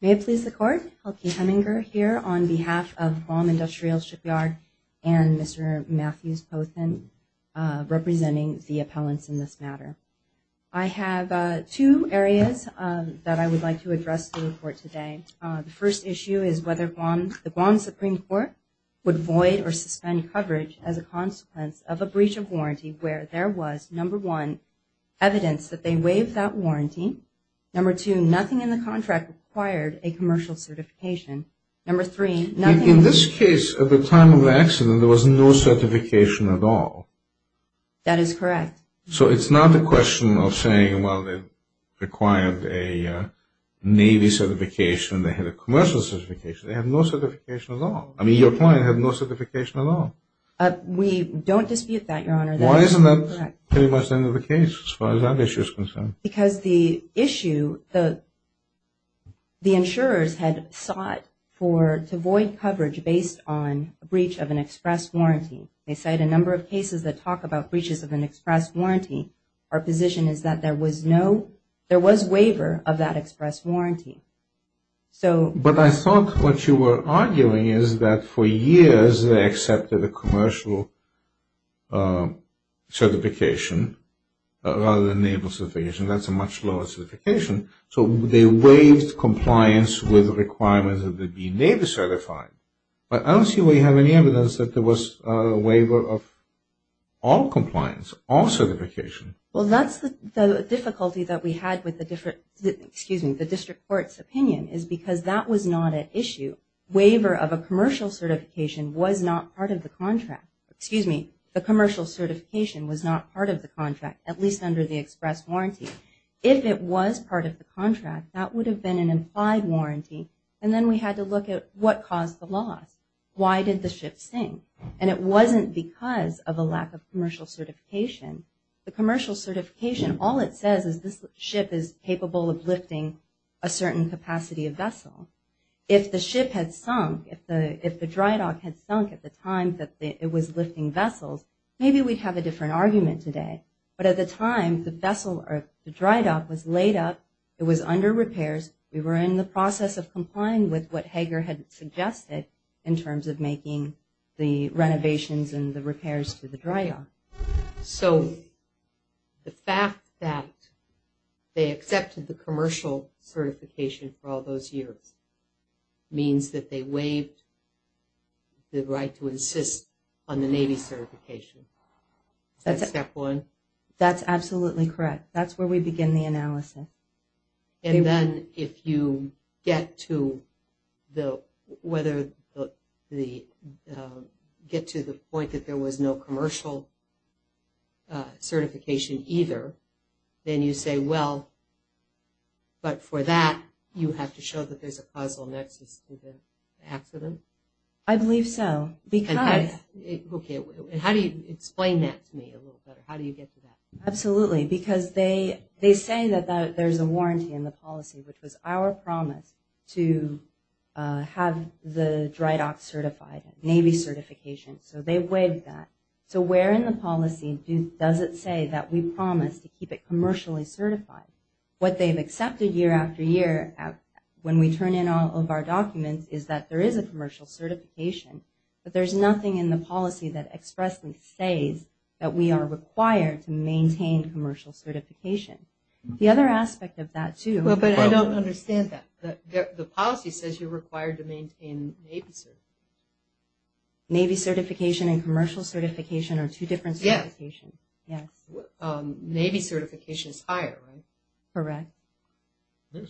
May it please the Court, Helga Hemminger here on behalf of Guam Industrial Shipyard and Mr. Matthews Posen representing the appellants in this matter. I have two areas that I would like to address in the report today. The first issue is whether the Guam Supreme Court would void or suspend coverage as a consequence of a breach of warranty where there was, number one, evidence that they Number two, nothing in the contract required a commercial certification. Number three, nothing... In this case, at the time of the accident, there was no certification at all. That is correct. So it's not a question of saying, well, they required a Navy certification and they had a commercial certification. They had no certification at all. I mean, your client had no certification at all. We don't dispute that, Your Honor. Why isn't that pretty much the end of the case as far as that issue is concerned? Because the issue, the insurers had sought to void coverage based on a breach of an express warranty. They cite a number of cases that talk about breaches of an express warranty. Our position is that there was no... There was waiver of that express warranty. But I thought what you were arguing is that for years they accepted a commercial certification rather than a Navy certification. That's a much lower certification. So they waived compliance with the requirements of the Navy certified. But I don't see why you have any evidence that there was a waiver of all compliance, all certification. Well, that's the difficulty that we had with the different... Excuse me, the district court's opinion is because that was not an issue. Waiver of a commercial certification was not part of the contract. Excuse me, the commercial certification was not part of the contract, at least under the express warranty. If it was part of the contract, that would have been an implied warranty. And then we had to look at what caused the loss. Why did the ship sink? And it wasn't because of a lack of commercial certification. The commercial certification, all it says is this ship is capable of lifting a certain capacity of vessel. If the ship had sunk, if the dry dock had sunk at the time that it was lifting vessels, maybe we'd have a different argument today. But at the time, the dry dock was laid up, it was under repairs, we were in the process of complying with what Hager had suggested in terms of making the renovations and the repairs to the dry dock. So, the fact that they accepted the commercial certification for all those years means that they waived the right to insist on the Navy certification. That's step one. That's absolutely correct. That's where we begin the analysis. And then, if you get to the point that there was no commercial certification either, then you say, well, but for that, you have to show that there's a causal nexus to the accident? I believe so. And how do you explain that to me a little better? How do you get to that? Absolutely, because they say that there's a warranty in the policy, which was our promise to have the dry dock certified, Navy certification. So, they waived that. So, where in the policy does it say that we promise to keep it commercially certified? What they've accepted year after year, when we turn in all of our documents, is that there is a commercial certification, but there's nothing in the policy that expressly says that we are required to maintain commercial certification. The other aspect of that, too... Well, but I don't understand that. The policy says you're required to maintain Navy certification. Navy certification and commercial certification are two different certifications. Yes. Yes. Navy certification is higher, right? Correct.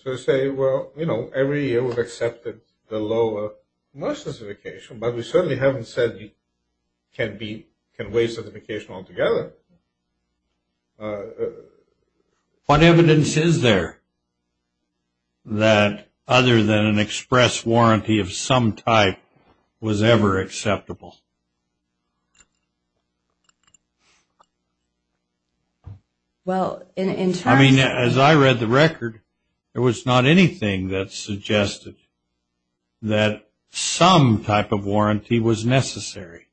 So, I say, well, you know, every year we've accepted the lower commercial certification, but we certainly haven't said you can be...can waive certification altogether. What evidence is there that other than an express warranty of some type was ever acceptable? Well, in terms... I mean, as I read the record, there was not anything that suggested that some type of warranty was necessary.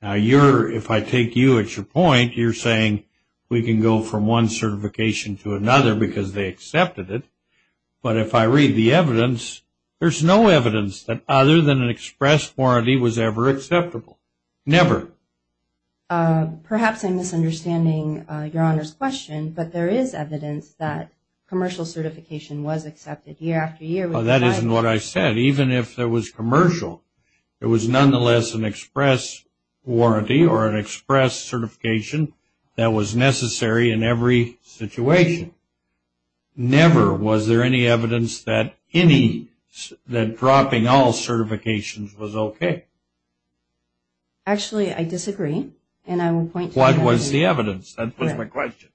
Now, you're...if I take you at your point, you're saying we can go from one certification to another because they accepted it. But if I read the evidence, there's no evidence that other than an express warranty was ever acceptable. Never. Perhaps I'm misunderstanding Your Honor's question, but there is evidence that commercial certification was accepted year after year. Well, that isn't what I said. Even if there was commercial, it was nonetheless an express warranty or an express certification that was necessary in every situation. Never was there any evidence that any...that dropping all certifications was okay. Actually, I disagree. And I will point to... What was the evidence? That was my question.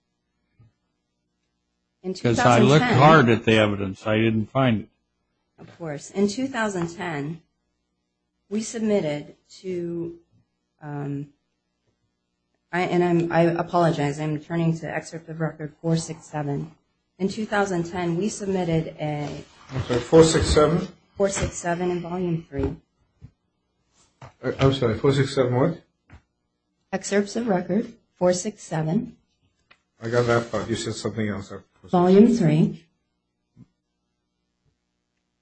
In 2010... Because I looked hard at the evidence. I didn't find it. Of course. In 2010, we submitted to... and I apologize. I'm returning to excerpt of Record 467. In 2010, we submitted a... Record 467? Record 467 in Volume 3. I'm sorry, 467 what? Excerpts of Record 467. I got that part. You said something else. Volume 3.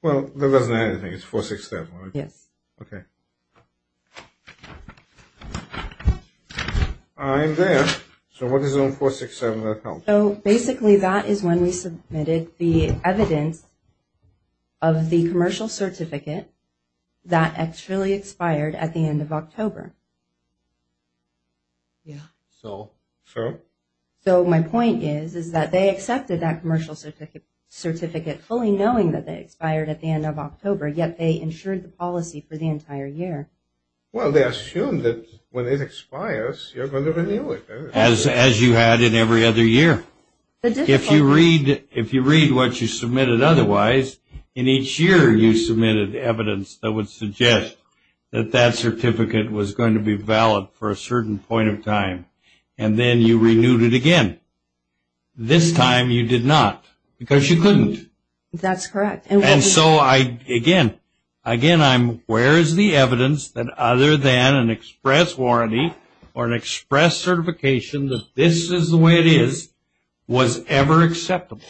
Well, that doesn't add anything. It's 467, right? Yes. Okay. I'm there. So what is on 467 that helps? So basically, that is when we submitted the evidence of the commercial certificate that actually expired at the end of October. Yeah. So? So my point is, is that they accepted that commercial certificate fully knowing that they expired at the end of October, yet they insured the policy for the entire year. Well, they assumed that when it expires, you're going to renew it. As you had in every other year. If you read what you submitted otherwise, in each year you submitted evidence that would suggest that that certificate was going to be valid for a certain point of time, and then you renewed it again. This time you did not because you couldn't. That's correct. And so, again, I'm where is the evidence that other than an express warranty or an express certification that this is the way it is, was ever acceptable?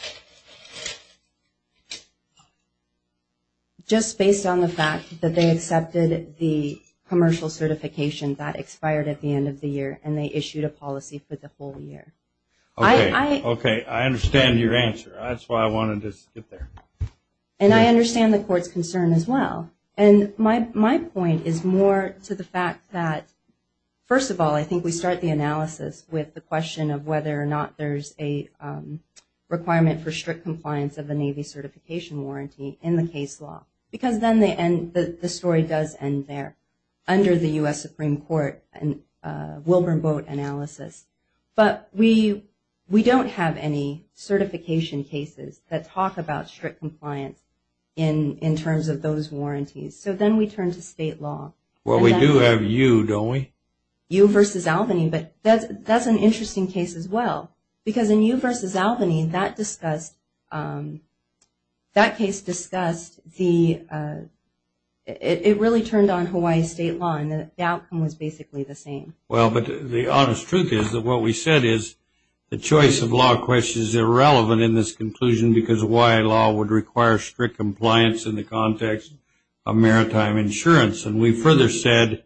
Just based on the fact that they accepted the commercial certification that expired at the end of the year and they issued a policy for the whole year. Okay. I understand your answer. That's why I wanted to get there. And I understand the court's concern as well. And my point is more to the fact that, first of all, I think we start the analysis with the question of whether or not there's a requirement for strict compliance of a Navy certification warranty in the case law. Because then the story does end there under the U.S. Supreme Court and Wilburn Boat analysis. But we don't have any certification cases that talk about strict compliance in terms of those warranties. So then we turn to state law. Well, we do have U, don't we? U versus Albany, but that's an interesting case as well. Because in U versus Albany, that case discussed the – it really turned on Hawaii state law and the outcome was basically the same. Well, but the honest truth is that what we said is the choice of law question is irrelevant in this conclusion because Hawaii law would require strict compliance in the context of maritime insurance. And we further said,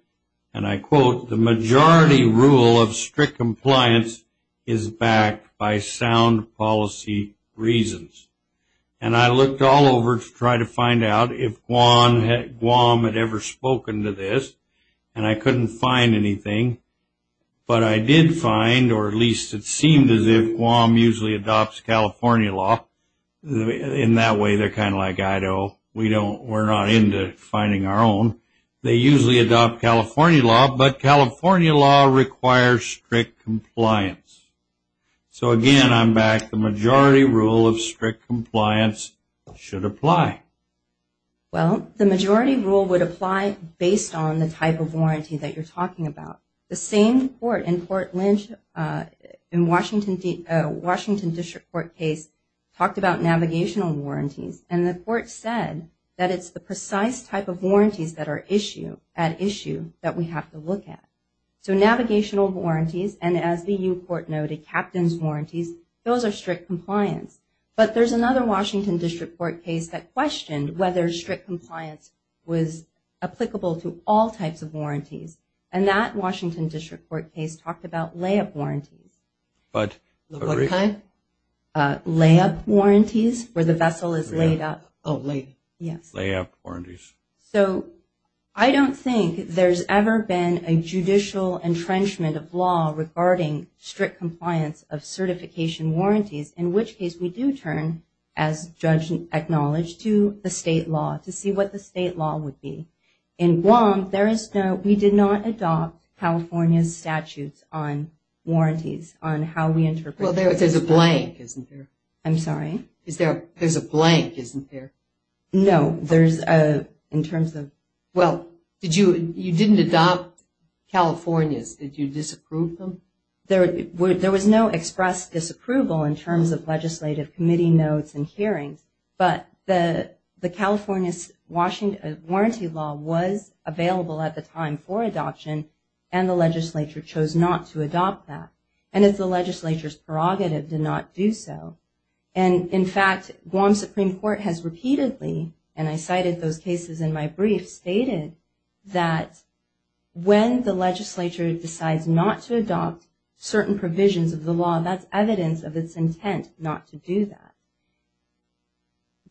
and I quote, the majority rule of strict compliance is backed by sound policy reasons. And I looked all over to try to find out if Guam had ever spoken to this, and I couldn't find anything. But I did find, or at least it seemed as if Guam usually adopts California law. In that way, they're kind of like Idaho. We're not into finding our own. They usually adopt California law, but California law requires strict compliance. So, again, I'm back. The majority rule of strict compliance should apply. Well, the majority rule would apply based on the type of warranty that you're talking about. The same court in Port Lynch in Washington District Court case talked about navigational warranties, and the court said that it's the precise type of warranties that are at issue that we have to look at. So navigational warranties, and as the U Court noted, captain's warranties, those are strict compliance. But there's another Washington District Court case that questioned whether strict compliance was applicable to all types of warranties, and that Washington District Court case talked about layup warranties. What kind? Layup warranties, where the vessel is laid up. Oh, layup. Yes. Layup warranties. So I don't think there's ever been a judicial entrenchment of law regarding strict compliance of certification warranties, in which case we do turn, as judge acknowledged, to the state law to see what the state law would be. In Guam, we did not adopt California's statutes on warranties, on how we interpret them. Well, there's a blank, isn't there? I'm sorry? There's a blank, isn't there? No, there's a, in terms of. Well, you didn't adopt California's. Did you disapprove them? There was no express disapproval in terms of legislative committee notes and hearings. But the California's warranty law was available at the time for adoption, and the legislature chose not to adopt that. And it's the legislature's prerogative to not do so. And, in fact, Guam Supreme Court has repeatedly, and I cited those cases in my brief, stated that when the legislature decides not to adopt certain provisions of the law, that's evidence of its intent not to do that.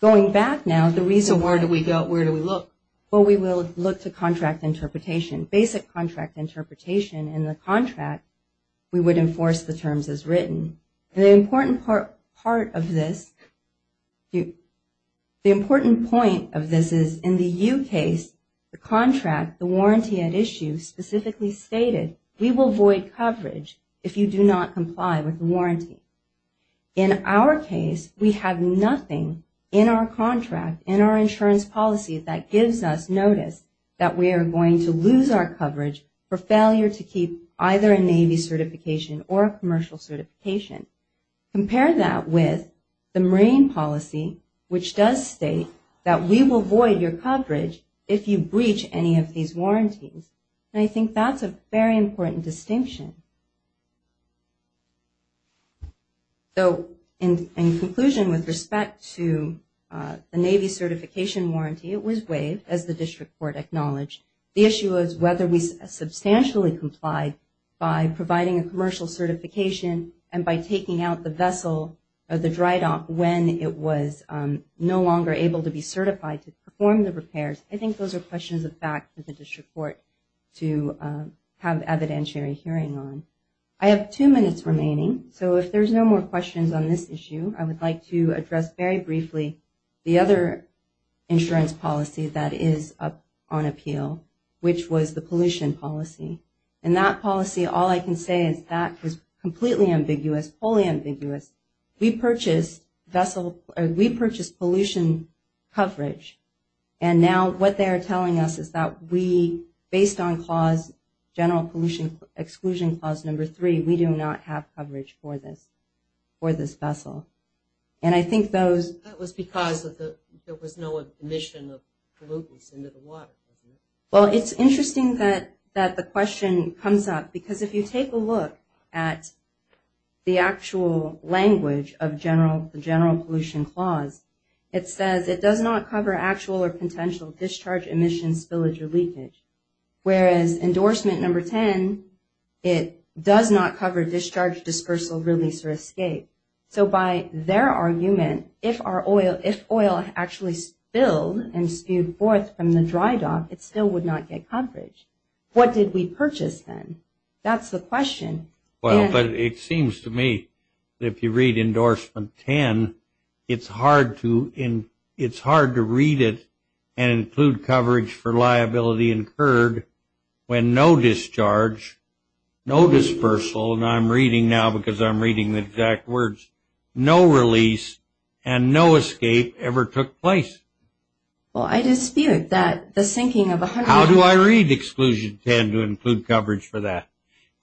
Going back now, the reason. Where do we go? Where do we look? Well, we will look to contract interpretation, basic contract interpretation. In the contract, we would enforce the terms as written. And the important part of this, the important point of this is in the U case, the contract, the warranty at issue specifically stated we will void coverage if you do not comply with the warranty. In our case, we have nothing in our contract, in our insurance policy, that gives us notice that we are going to lose our coverage for failure to keep either a Navy certification or a commercial certification. Compare that with the Marine policy, which does state that we will void your coverage if you breach any of these warranties. And I think that's a very important distinction. So, in conclusion, with respect to the Navy certification warranty, it was waived, as the district court acknowledged. The issue is whether we substantially complied by providing a commercial certification and by taking out the vessel or the dry dock when it was no longer able to be certified to perform the repairs. I think those are questions of fact for the district court to have evidentiary hearing on. I have two minutes remaining. So, if there's no more questions on this issue, I would like to address very briefly the other insurance policy that is up on appeal, which was the pollution policy. And that policy, all I can say is that was completely ambiguous, fully ambiguous. We purchased pollution coverage, and now what they are telling us is that we, based on general pollution exclusion clause number three, we do not have coverage for this vessel. And I think those... That was because there was no emission of pollutants into the water. Well, it's interesting that the question comes up, because if you take a look at the actual language of the general pollution clause, it says, it does not cover actual or potential discharge, emissions, spillage, or leakage. Whereas endorsement number 10, it does not cover discharge, dispersal, release, or escape. So, by their argument, if oil actually spilled and spewed forth from the dry dock, it still would not get coverage. What did we purchase then? That's the question. Well, but it seems to me that if you read endorsement 10, it's hard to read it and include coverage for liability incurred when no discharge, no dispersal, and I'm reading now because I'm reading the exact words, no release, and no escape ever took place. Well, I dispute that. How do I read exclusion 10 to include coverage for that?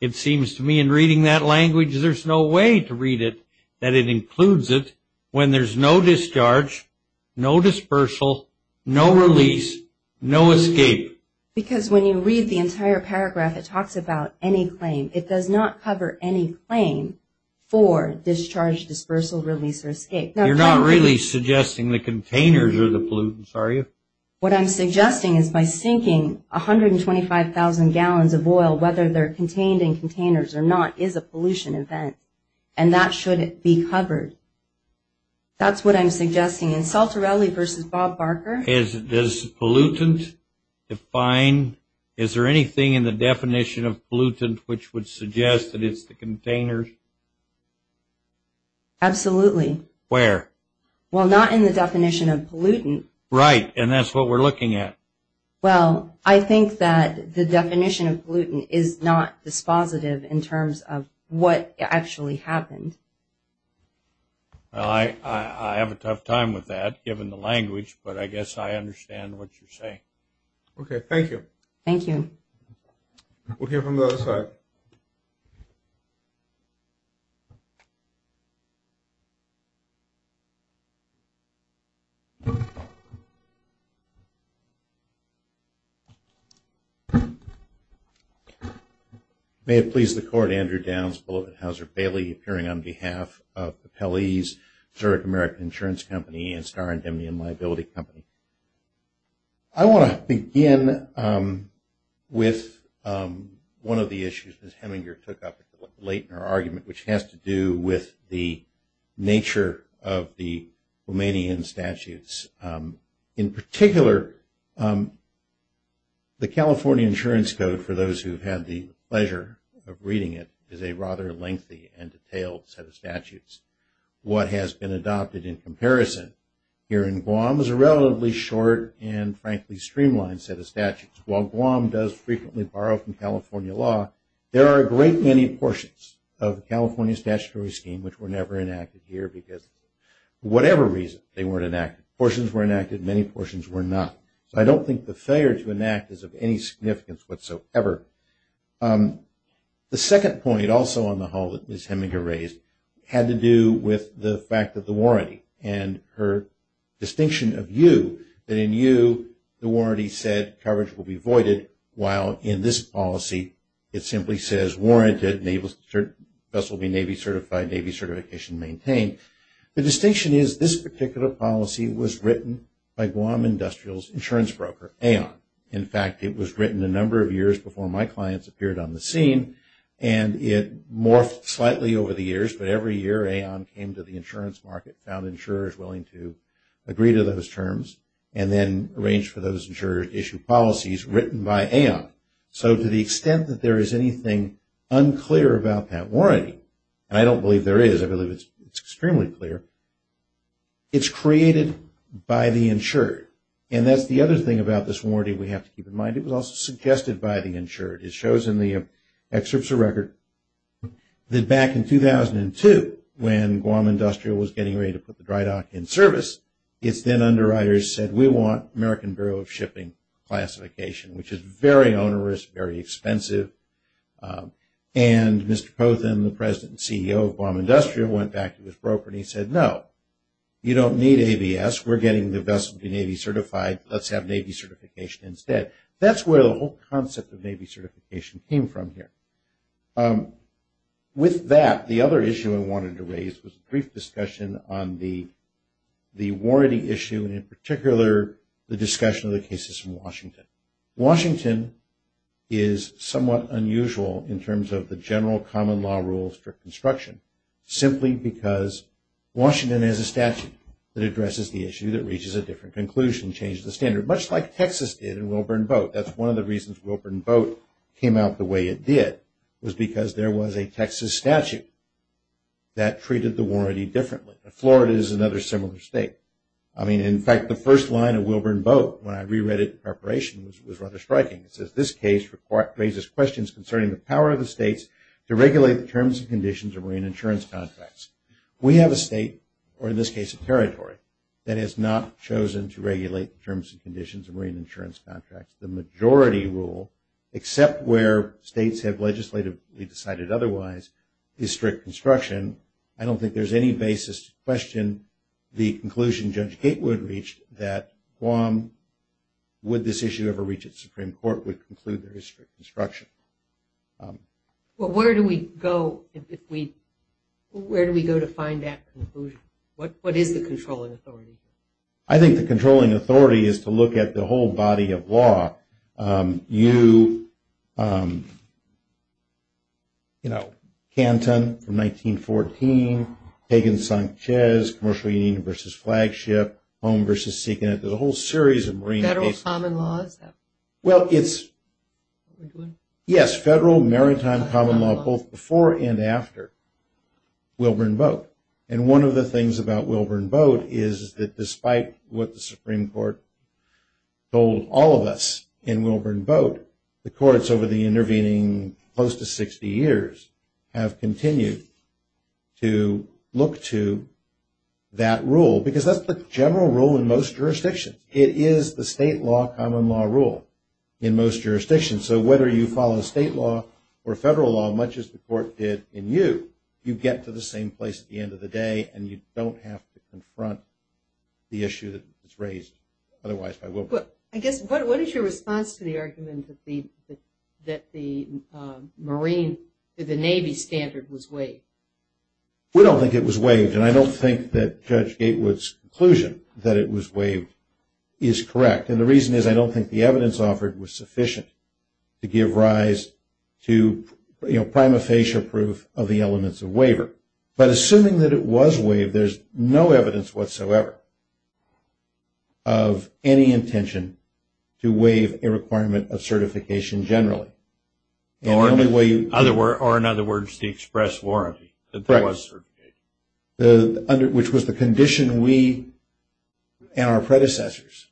It seems to me in reading that language, there's no way to read it that it includes it when there's no discharge, no dispersal, no release, no escape. Because when you read the entire paragraph, it talks about any claim. It does not cover any claim for discharge, dispersal, release, or escape. You're not really suggesting the containers are the pollutants, are you? What I'm suggesting is by sinking 125,000 gallons of oil, whether they're contained in containers or not, is a pollution event, and that should be covered. That's what I'm suggesting. And Saltarelli versus Bob Barker? Does pollutant define? Is there anything in the definition of pollutant which would suggest that it's the containers? Absolutely. Where? Well, not in the definition of pollutant. Right, and that's what we're looking at. Well, I think that the definition of pollutant is not dispositive in terms of what actually happened. Well, I have a tough time with that given the language, but I guess I understand what you're saying. Okay, thank you. Thank you. We'll hear from the other side. May it please the Court, Andrew Downs, beloved Hauser-Bailey, appearing on behalf of the Pelley's, Zurich American Insurance Company, and Star Indemnity and Liability Company. I want to begin with one of the issues Ms. Heminger took up late in her argument, which has to do with the nature of the Romanian statutes. In particular, the California Insurance Code, for those who've had the pleasure of reading it, is a rather lengthy and detailed set of statutes. What has been adopted in comparison here in Guam is a relatively short and frankly streamlined set of statutes. While Guam does frequently borrow from California law, there are a great many portions of the California statutory scheme which were never enacted here because for whatever reason they weren't enacted. Portions were enacted, many portions were not. So I don't think the failure to enact is of any significance whatsoever. The second point also on the whole that Ms. Heminger raised had to do with the fact that the warranty and her distinction of you, that in you the warranty said coverage will be voided, while in this policy it simply says warranted, vessel will be Navy certified, Navy certification maintained. The distinction is this particular policy was written by Guam Industrial's insurance broker, Aon. In fact, it was written a number of years before my clients appeared on the scene and it morphed slightly over the years, but every year Aon came to the insurance market, found insurers willing to agree to those terms, and then arranged for those insurers to issue policies written by Aon. So to the extent that there is anything unclear about that warranty, and I don't believe there is, I believe it's extremely clear, it's created by the insurer. And that's the other thing about this warranty we have to keep in mind. It was also suggested by the insurer. It shows in the excerpts of record that back in 2002, when Guam Industrial was getting ready to put the dry dock in service, its then underwriters said we want American Bureau of Shipping classification, which is very onerous, very expensive. And Mr. Pothen, the president and CEO of Guam Industrial, went back to his broker and he said, no, you don't need ABS. We're getting the best Navy certified. Let's have Navy certification instead. That's where the whole concept of Navy certification came from here. With that, the other issue I wanted to raise was a brief discussion on the warranty issue and in particular the discussion of the cases in Washington. Washington is somewhat unusual in terms of the general common law rules for construction, simply because Washington has a statute that addresses the issue that reaches a different conclusion, changes the standard, much like Texas did in Wilburn Boat. That's one of the reasons Wilburn Boat came out the way it did, was because there was a Texas statute that treated the warranty differently. Florida is another similar state. I mean, in fact, the first line of Wilburn Boat, when I reread it in preparation, was rather striking. It says, this case raises questions concerning the power of the states to regulate the terms and conditions of marine insurance contracts. We have a state, or in this case a territory, that has not chosen to regulate the terms and conditions of marine insurance contracts. The majority rule, except where states have legislatively decided otherwise, is strict construction. I don't think there's any basis to question the conclusion Judge Gatewood reached that Guam, would this issue ever reach a Supreme Court, would conclude there is strict construction. Well, where do we go to find that conclusion? What is the controlling authority? I think the controlling authority is to look at the whole body of law. You know, Canton from 1914, Hagen-Sanchez, Commercial Union v. Flagship, Home v. Sea Connect, there's a whole series of marine cases. Federal common laws? Well, it's, yes, federal maritime common law, both before and after Wilburn Boat. And one of the things about Wilburn Boat is that despite what the Supreme Court told all of us in Wilburn Boat, the courts over the intervening close to 60 years have continued to look to that rule, because that's the general rule in most jurisdictions. It is the state law common law rule in most jurisdictions. So whether you follow state law or federal law, much as the court did in you, you get to the same place at the end of the day, and you don't have to confront the issue that was raised otherwise by Wilburn. I guess what is your response to the argument that the marine, the Navy standard was waived? We don't think it was waived, and I don't think that Judge Gatewood's conclusion that it was waived is correct. And the reason is I don't think the evidence offered was sufficient to give rise to, you know, a prima facie proof of the elements of waiver. But assuming that it was waived, there's no evidence whatsoever of any intention to waive a requirement of certification generally. Or in other words, the express warranty that there was certification. Which was the condition we and our predecessors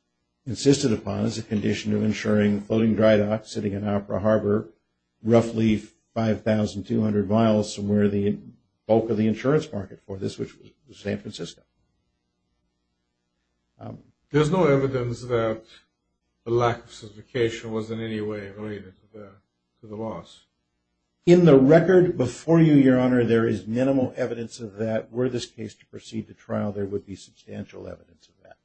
insisted upon as a condition of ensuring floating dry docks sitting in 1,200 miles from where the bulk of the insurance market for this was San Francisco. There's no evidence that the lack of certification was in any way related to the loss? In the record before you, Your Honor, there is minimal evidence of that. Were this case to proceed to trial, there would be substantial evidence of that.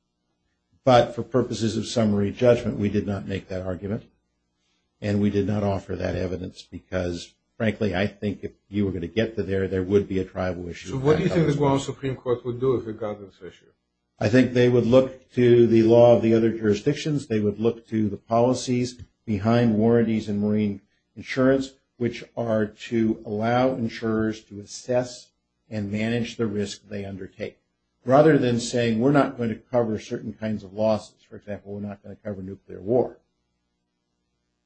But for purposes of summary judgment, we did not make that argument, and we did not offer that evidence because, frankly, I think if you were going to get to there, there would be a tribal issue. So what do you think the U.S. Supreme Court would do with regard to this issue? I think they would look to the law of the other jurisdictions. They would look to the policies behind warranties and marine insurance, which are to allow insurers to assess and manage the risk they undertake. Rather than saying, we're not going to cover certain kinds of losses. For example, we're not going to cover nuclear war.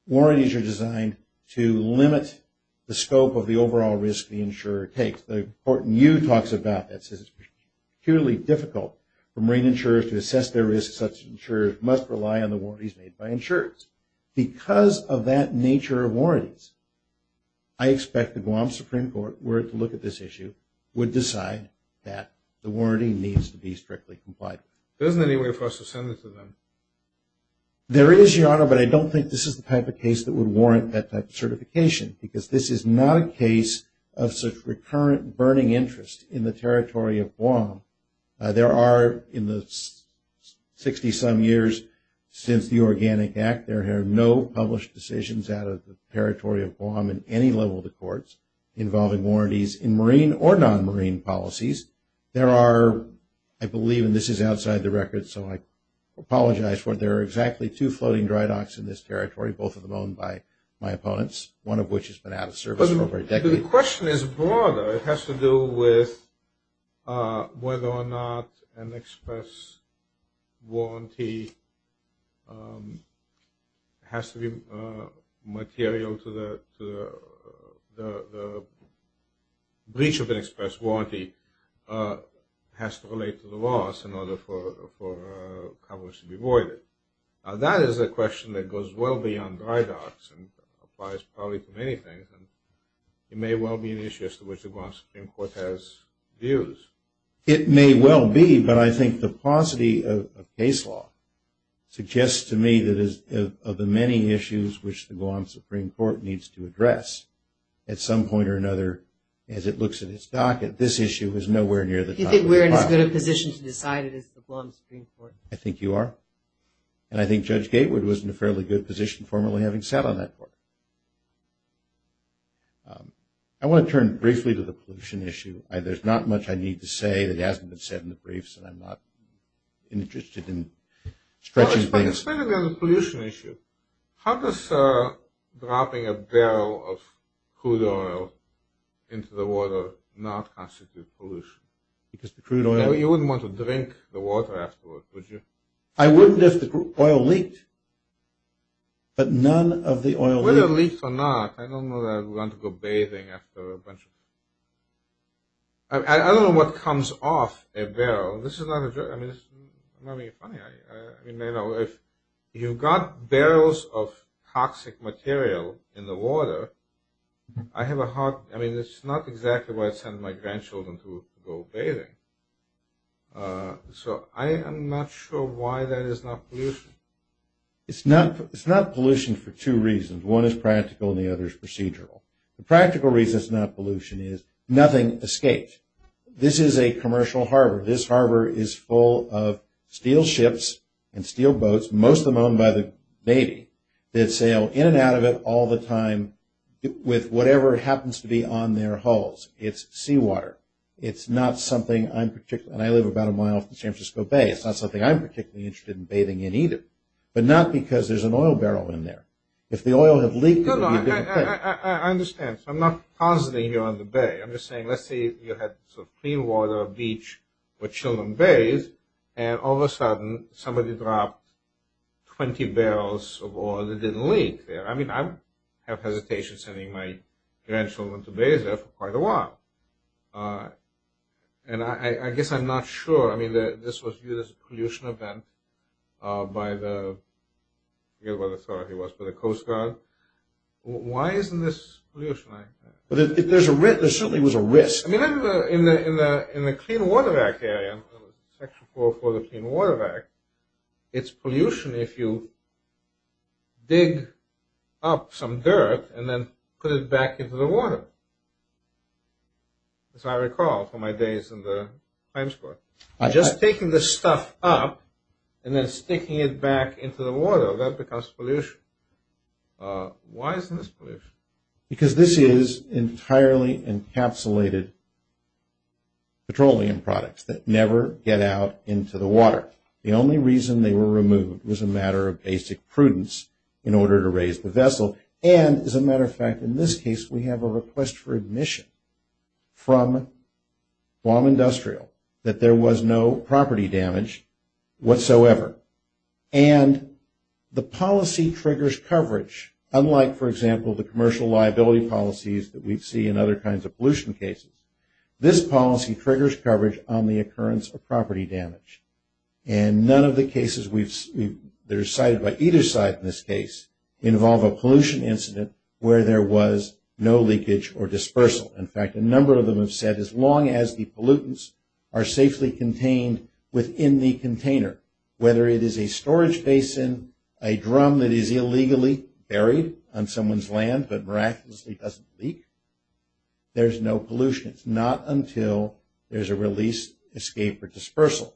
Warranties are designed to limit the scope of the overall risk the insurer takes. The court in you talks about this. It's purely difficult for marine insurers to assess their risk. Such insurers must rely on the warranties made by insurers. Because of that nature of warranties, I expect the Guam Supreme Court, if it were to look at this issue, would decide that the warranty needs to be strictly complied with. There isn't any way for us to send this to them. There is, Your Honor, but I don't think this is the type of case that would warrant that type of certification, because this is not a case of such recurrent burning interest in the territory of Guam. There are, in the 60-some years since the Organic Act, there have been no published decisions out of the territory of Guam in any level of the courts involving warranties in marine or non-marine policies. There are, I believe, and this is outside the record, so I apologize for it, there are exactly two floating dry docks in this territory, both of them owned by my opponents, one of which has been out of service for over a decade. The question is broader. It has to do with whether or not an express warranty has to be material to the breach of an express warranty, has to relate to the loss in order for coverage to be avoided. Now, that is a question that goes well beyond dry docks and applies probably to many things, and it may well be an issue as to which the Guam Supreme Court has views. It may well be, but I think the paucity of case law suggests to me that of the many issues which the Guam Supreme Court needs to address, at some point or another, as it looks at its docket, this issue is nowhere near the top. Do you think we're in as good a position to decide it as the Guam Supreme Court? I think you are. And I think Judge Gatewood was in a fairly good position, formerly, having sat on that court. I want to turn briefly to the pollution issue. There's not much I need to say that hasn't been said in the briefs, and I'm not interested in stretching things. Speaking of the pollution issue, how does dropping a barrel of crude oil into the water not constitute pollution? Because the crude oil... I wouldn't if the oil leaked, but none of the oil leaked. Whether it leaked or not, I don't know that I would want to go bathing after a bunch of... I don't know what comes off a barrel. This is not a joke. I mean, it's not really funny. I mean, you know, if you've got barrels of toxic material in the water, I have a hard... I mean, it's not exactly why I'd send my grandchildren to go bathing. So I am not sure why that is not pollution. It's not pollution for two reasons. One is practical, and the other is procedural. The practical reason it's not pollution is nothing escapes. This is a commercial harbor. This harbor is full of steel ships and steel boats, most of them owned by the Navy, that sail in and out of it all the time with whatever happens to be on their hulls. It's seawater. It's not something I'm particularly... And I live about a mile from San Francisco Bay. It's not something I'm particularly interested in bathing in either, but not because there's an oil barrel in there. If the oil had leaked, it would be a different thing. No, no, I understand. I'm not positing you're on the bay. I'm just saying let's say you had some clean water, a beach where children bathe, and all of a sudden somebody dropped 20 barrels of oil that didn't leak there. I mean I have hesitation sending my grandchildren to bathe there for quite a while. And I guess I'm not sure. I mean this was viewed as a pollution event by the Coast Guard. Why isn't this pollution? There certainly was a risk. I mean in the Clean Water Act area, Section 404 of the Clean Water Act, it's pollution if you dig up some dirt and then put it back into the water, as I recall from my days in the crime squad. Just taking this stuff up and then sticking it back into the water, that becomes pollution. Why isn't this pollution? Because this is entirely encapsulated petroleum products that never get out into the water. The only reason they were removed was a matter of basic prudence in order to raise the vessel. And, as a matter of fact, in this case we have a request for admission from Guam Industrial that there was no property damage whatsoever. And the policy triggers coverage, unlike, for example, the commercial liability policies that we see in other kinds of pollution cases. This policy triggers coverage on the occurrence of property damage. And none of the cases that are cited by either side in this case involve a pollution incident where there was no leakage or dispersal. In fact, a number of them have said as long as the pollutants are safely contained within the container, whether it is a storage basin, a drum that is illegally buried on someone's land but miraculously doesn't leak, there's no pollution. It's not until there's a release, escape, or dispersal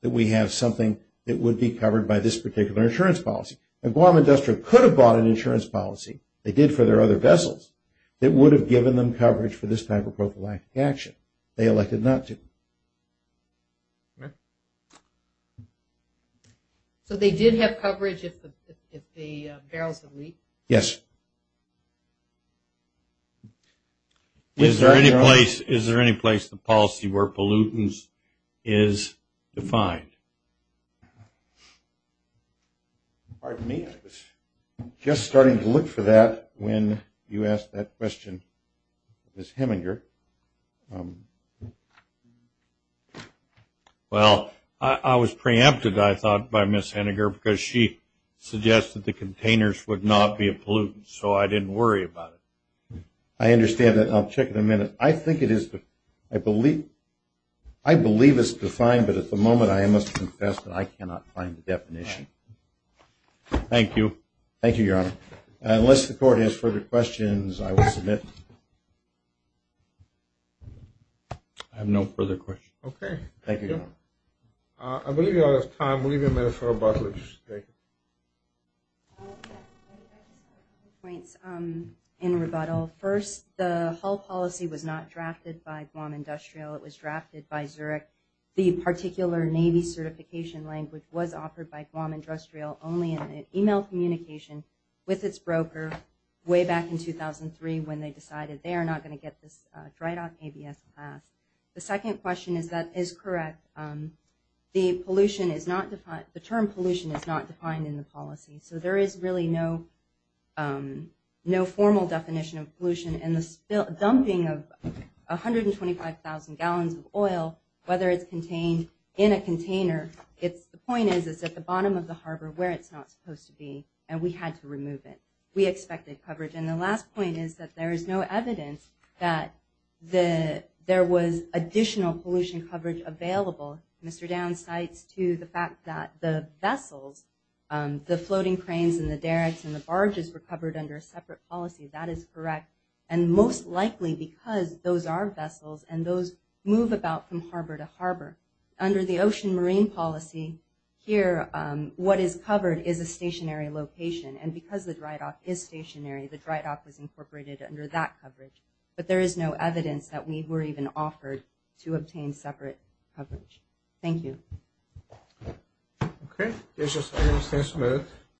that we have something that would be covered by this particular insurance policy. And Guam Industrial could have bought an insurance policy, they did for their other vessels, that would have given them coverage for this type of prophylactic action. They elected not to. So they did have coverage if the barrels would leak? Yes. Is there any place the policy where pollutants is defined? Pardon me? Just starting to look for that when you asked that question, Ms. Heminger. Well, I was preempted, I thought, by Ms. Heminger, because she suggested the containers would not be a pollutant, so I didn't worry about it. I understand that. I'll check in a minute. I think it is, I believe it's defined, but at the moment I must confess that I cannot find the definition. Thank you. Thank you, Your Honor. Unless the court has further questions, I will submit. I have no further questions. Okay. Thank you, Your Honor. I believe we are out of time. We'll leave it there for rebuttal. Two points in rebuttal. First, the hull policy was not drafted by Guam Industrial, it was drafted by Zurich. The particular Navy certification language was offered by Guam Industrial only in an email communication with its broker way back in 2003 when they decided they are not going to get this dry dock ABS class. The second question is that is correct. The term pollution is not defined in the policy, so there is really no formal definition of pollution. And the dumping of 125,000 gallons of oil, whether it's contained in a container, the point is it's at the bottom of the harbor where it's not supposed to be, and we had to remove it. We expected coverage. And the last point is that there is no evidence that there was additional pollution coverage available, Mr. Downs cites to the fact that the vessels, the floating cranes and the derricks and the barges were covered under a separate policy. That is correct. And most likely because those are vessels and those move about from harbor to harbor. Under the ocean marine policy here, what is covered is a stationary location. And because the dry dock is stationary, the dry dock was incorporated under that coverage. But there is no evidence that we were even offered to obtain separate coverage. Thank you. Okay.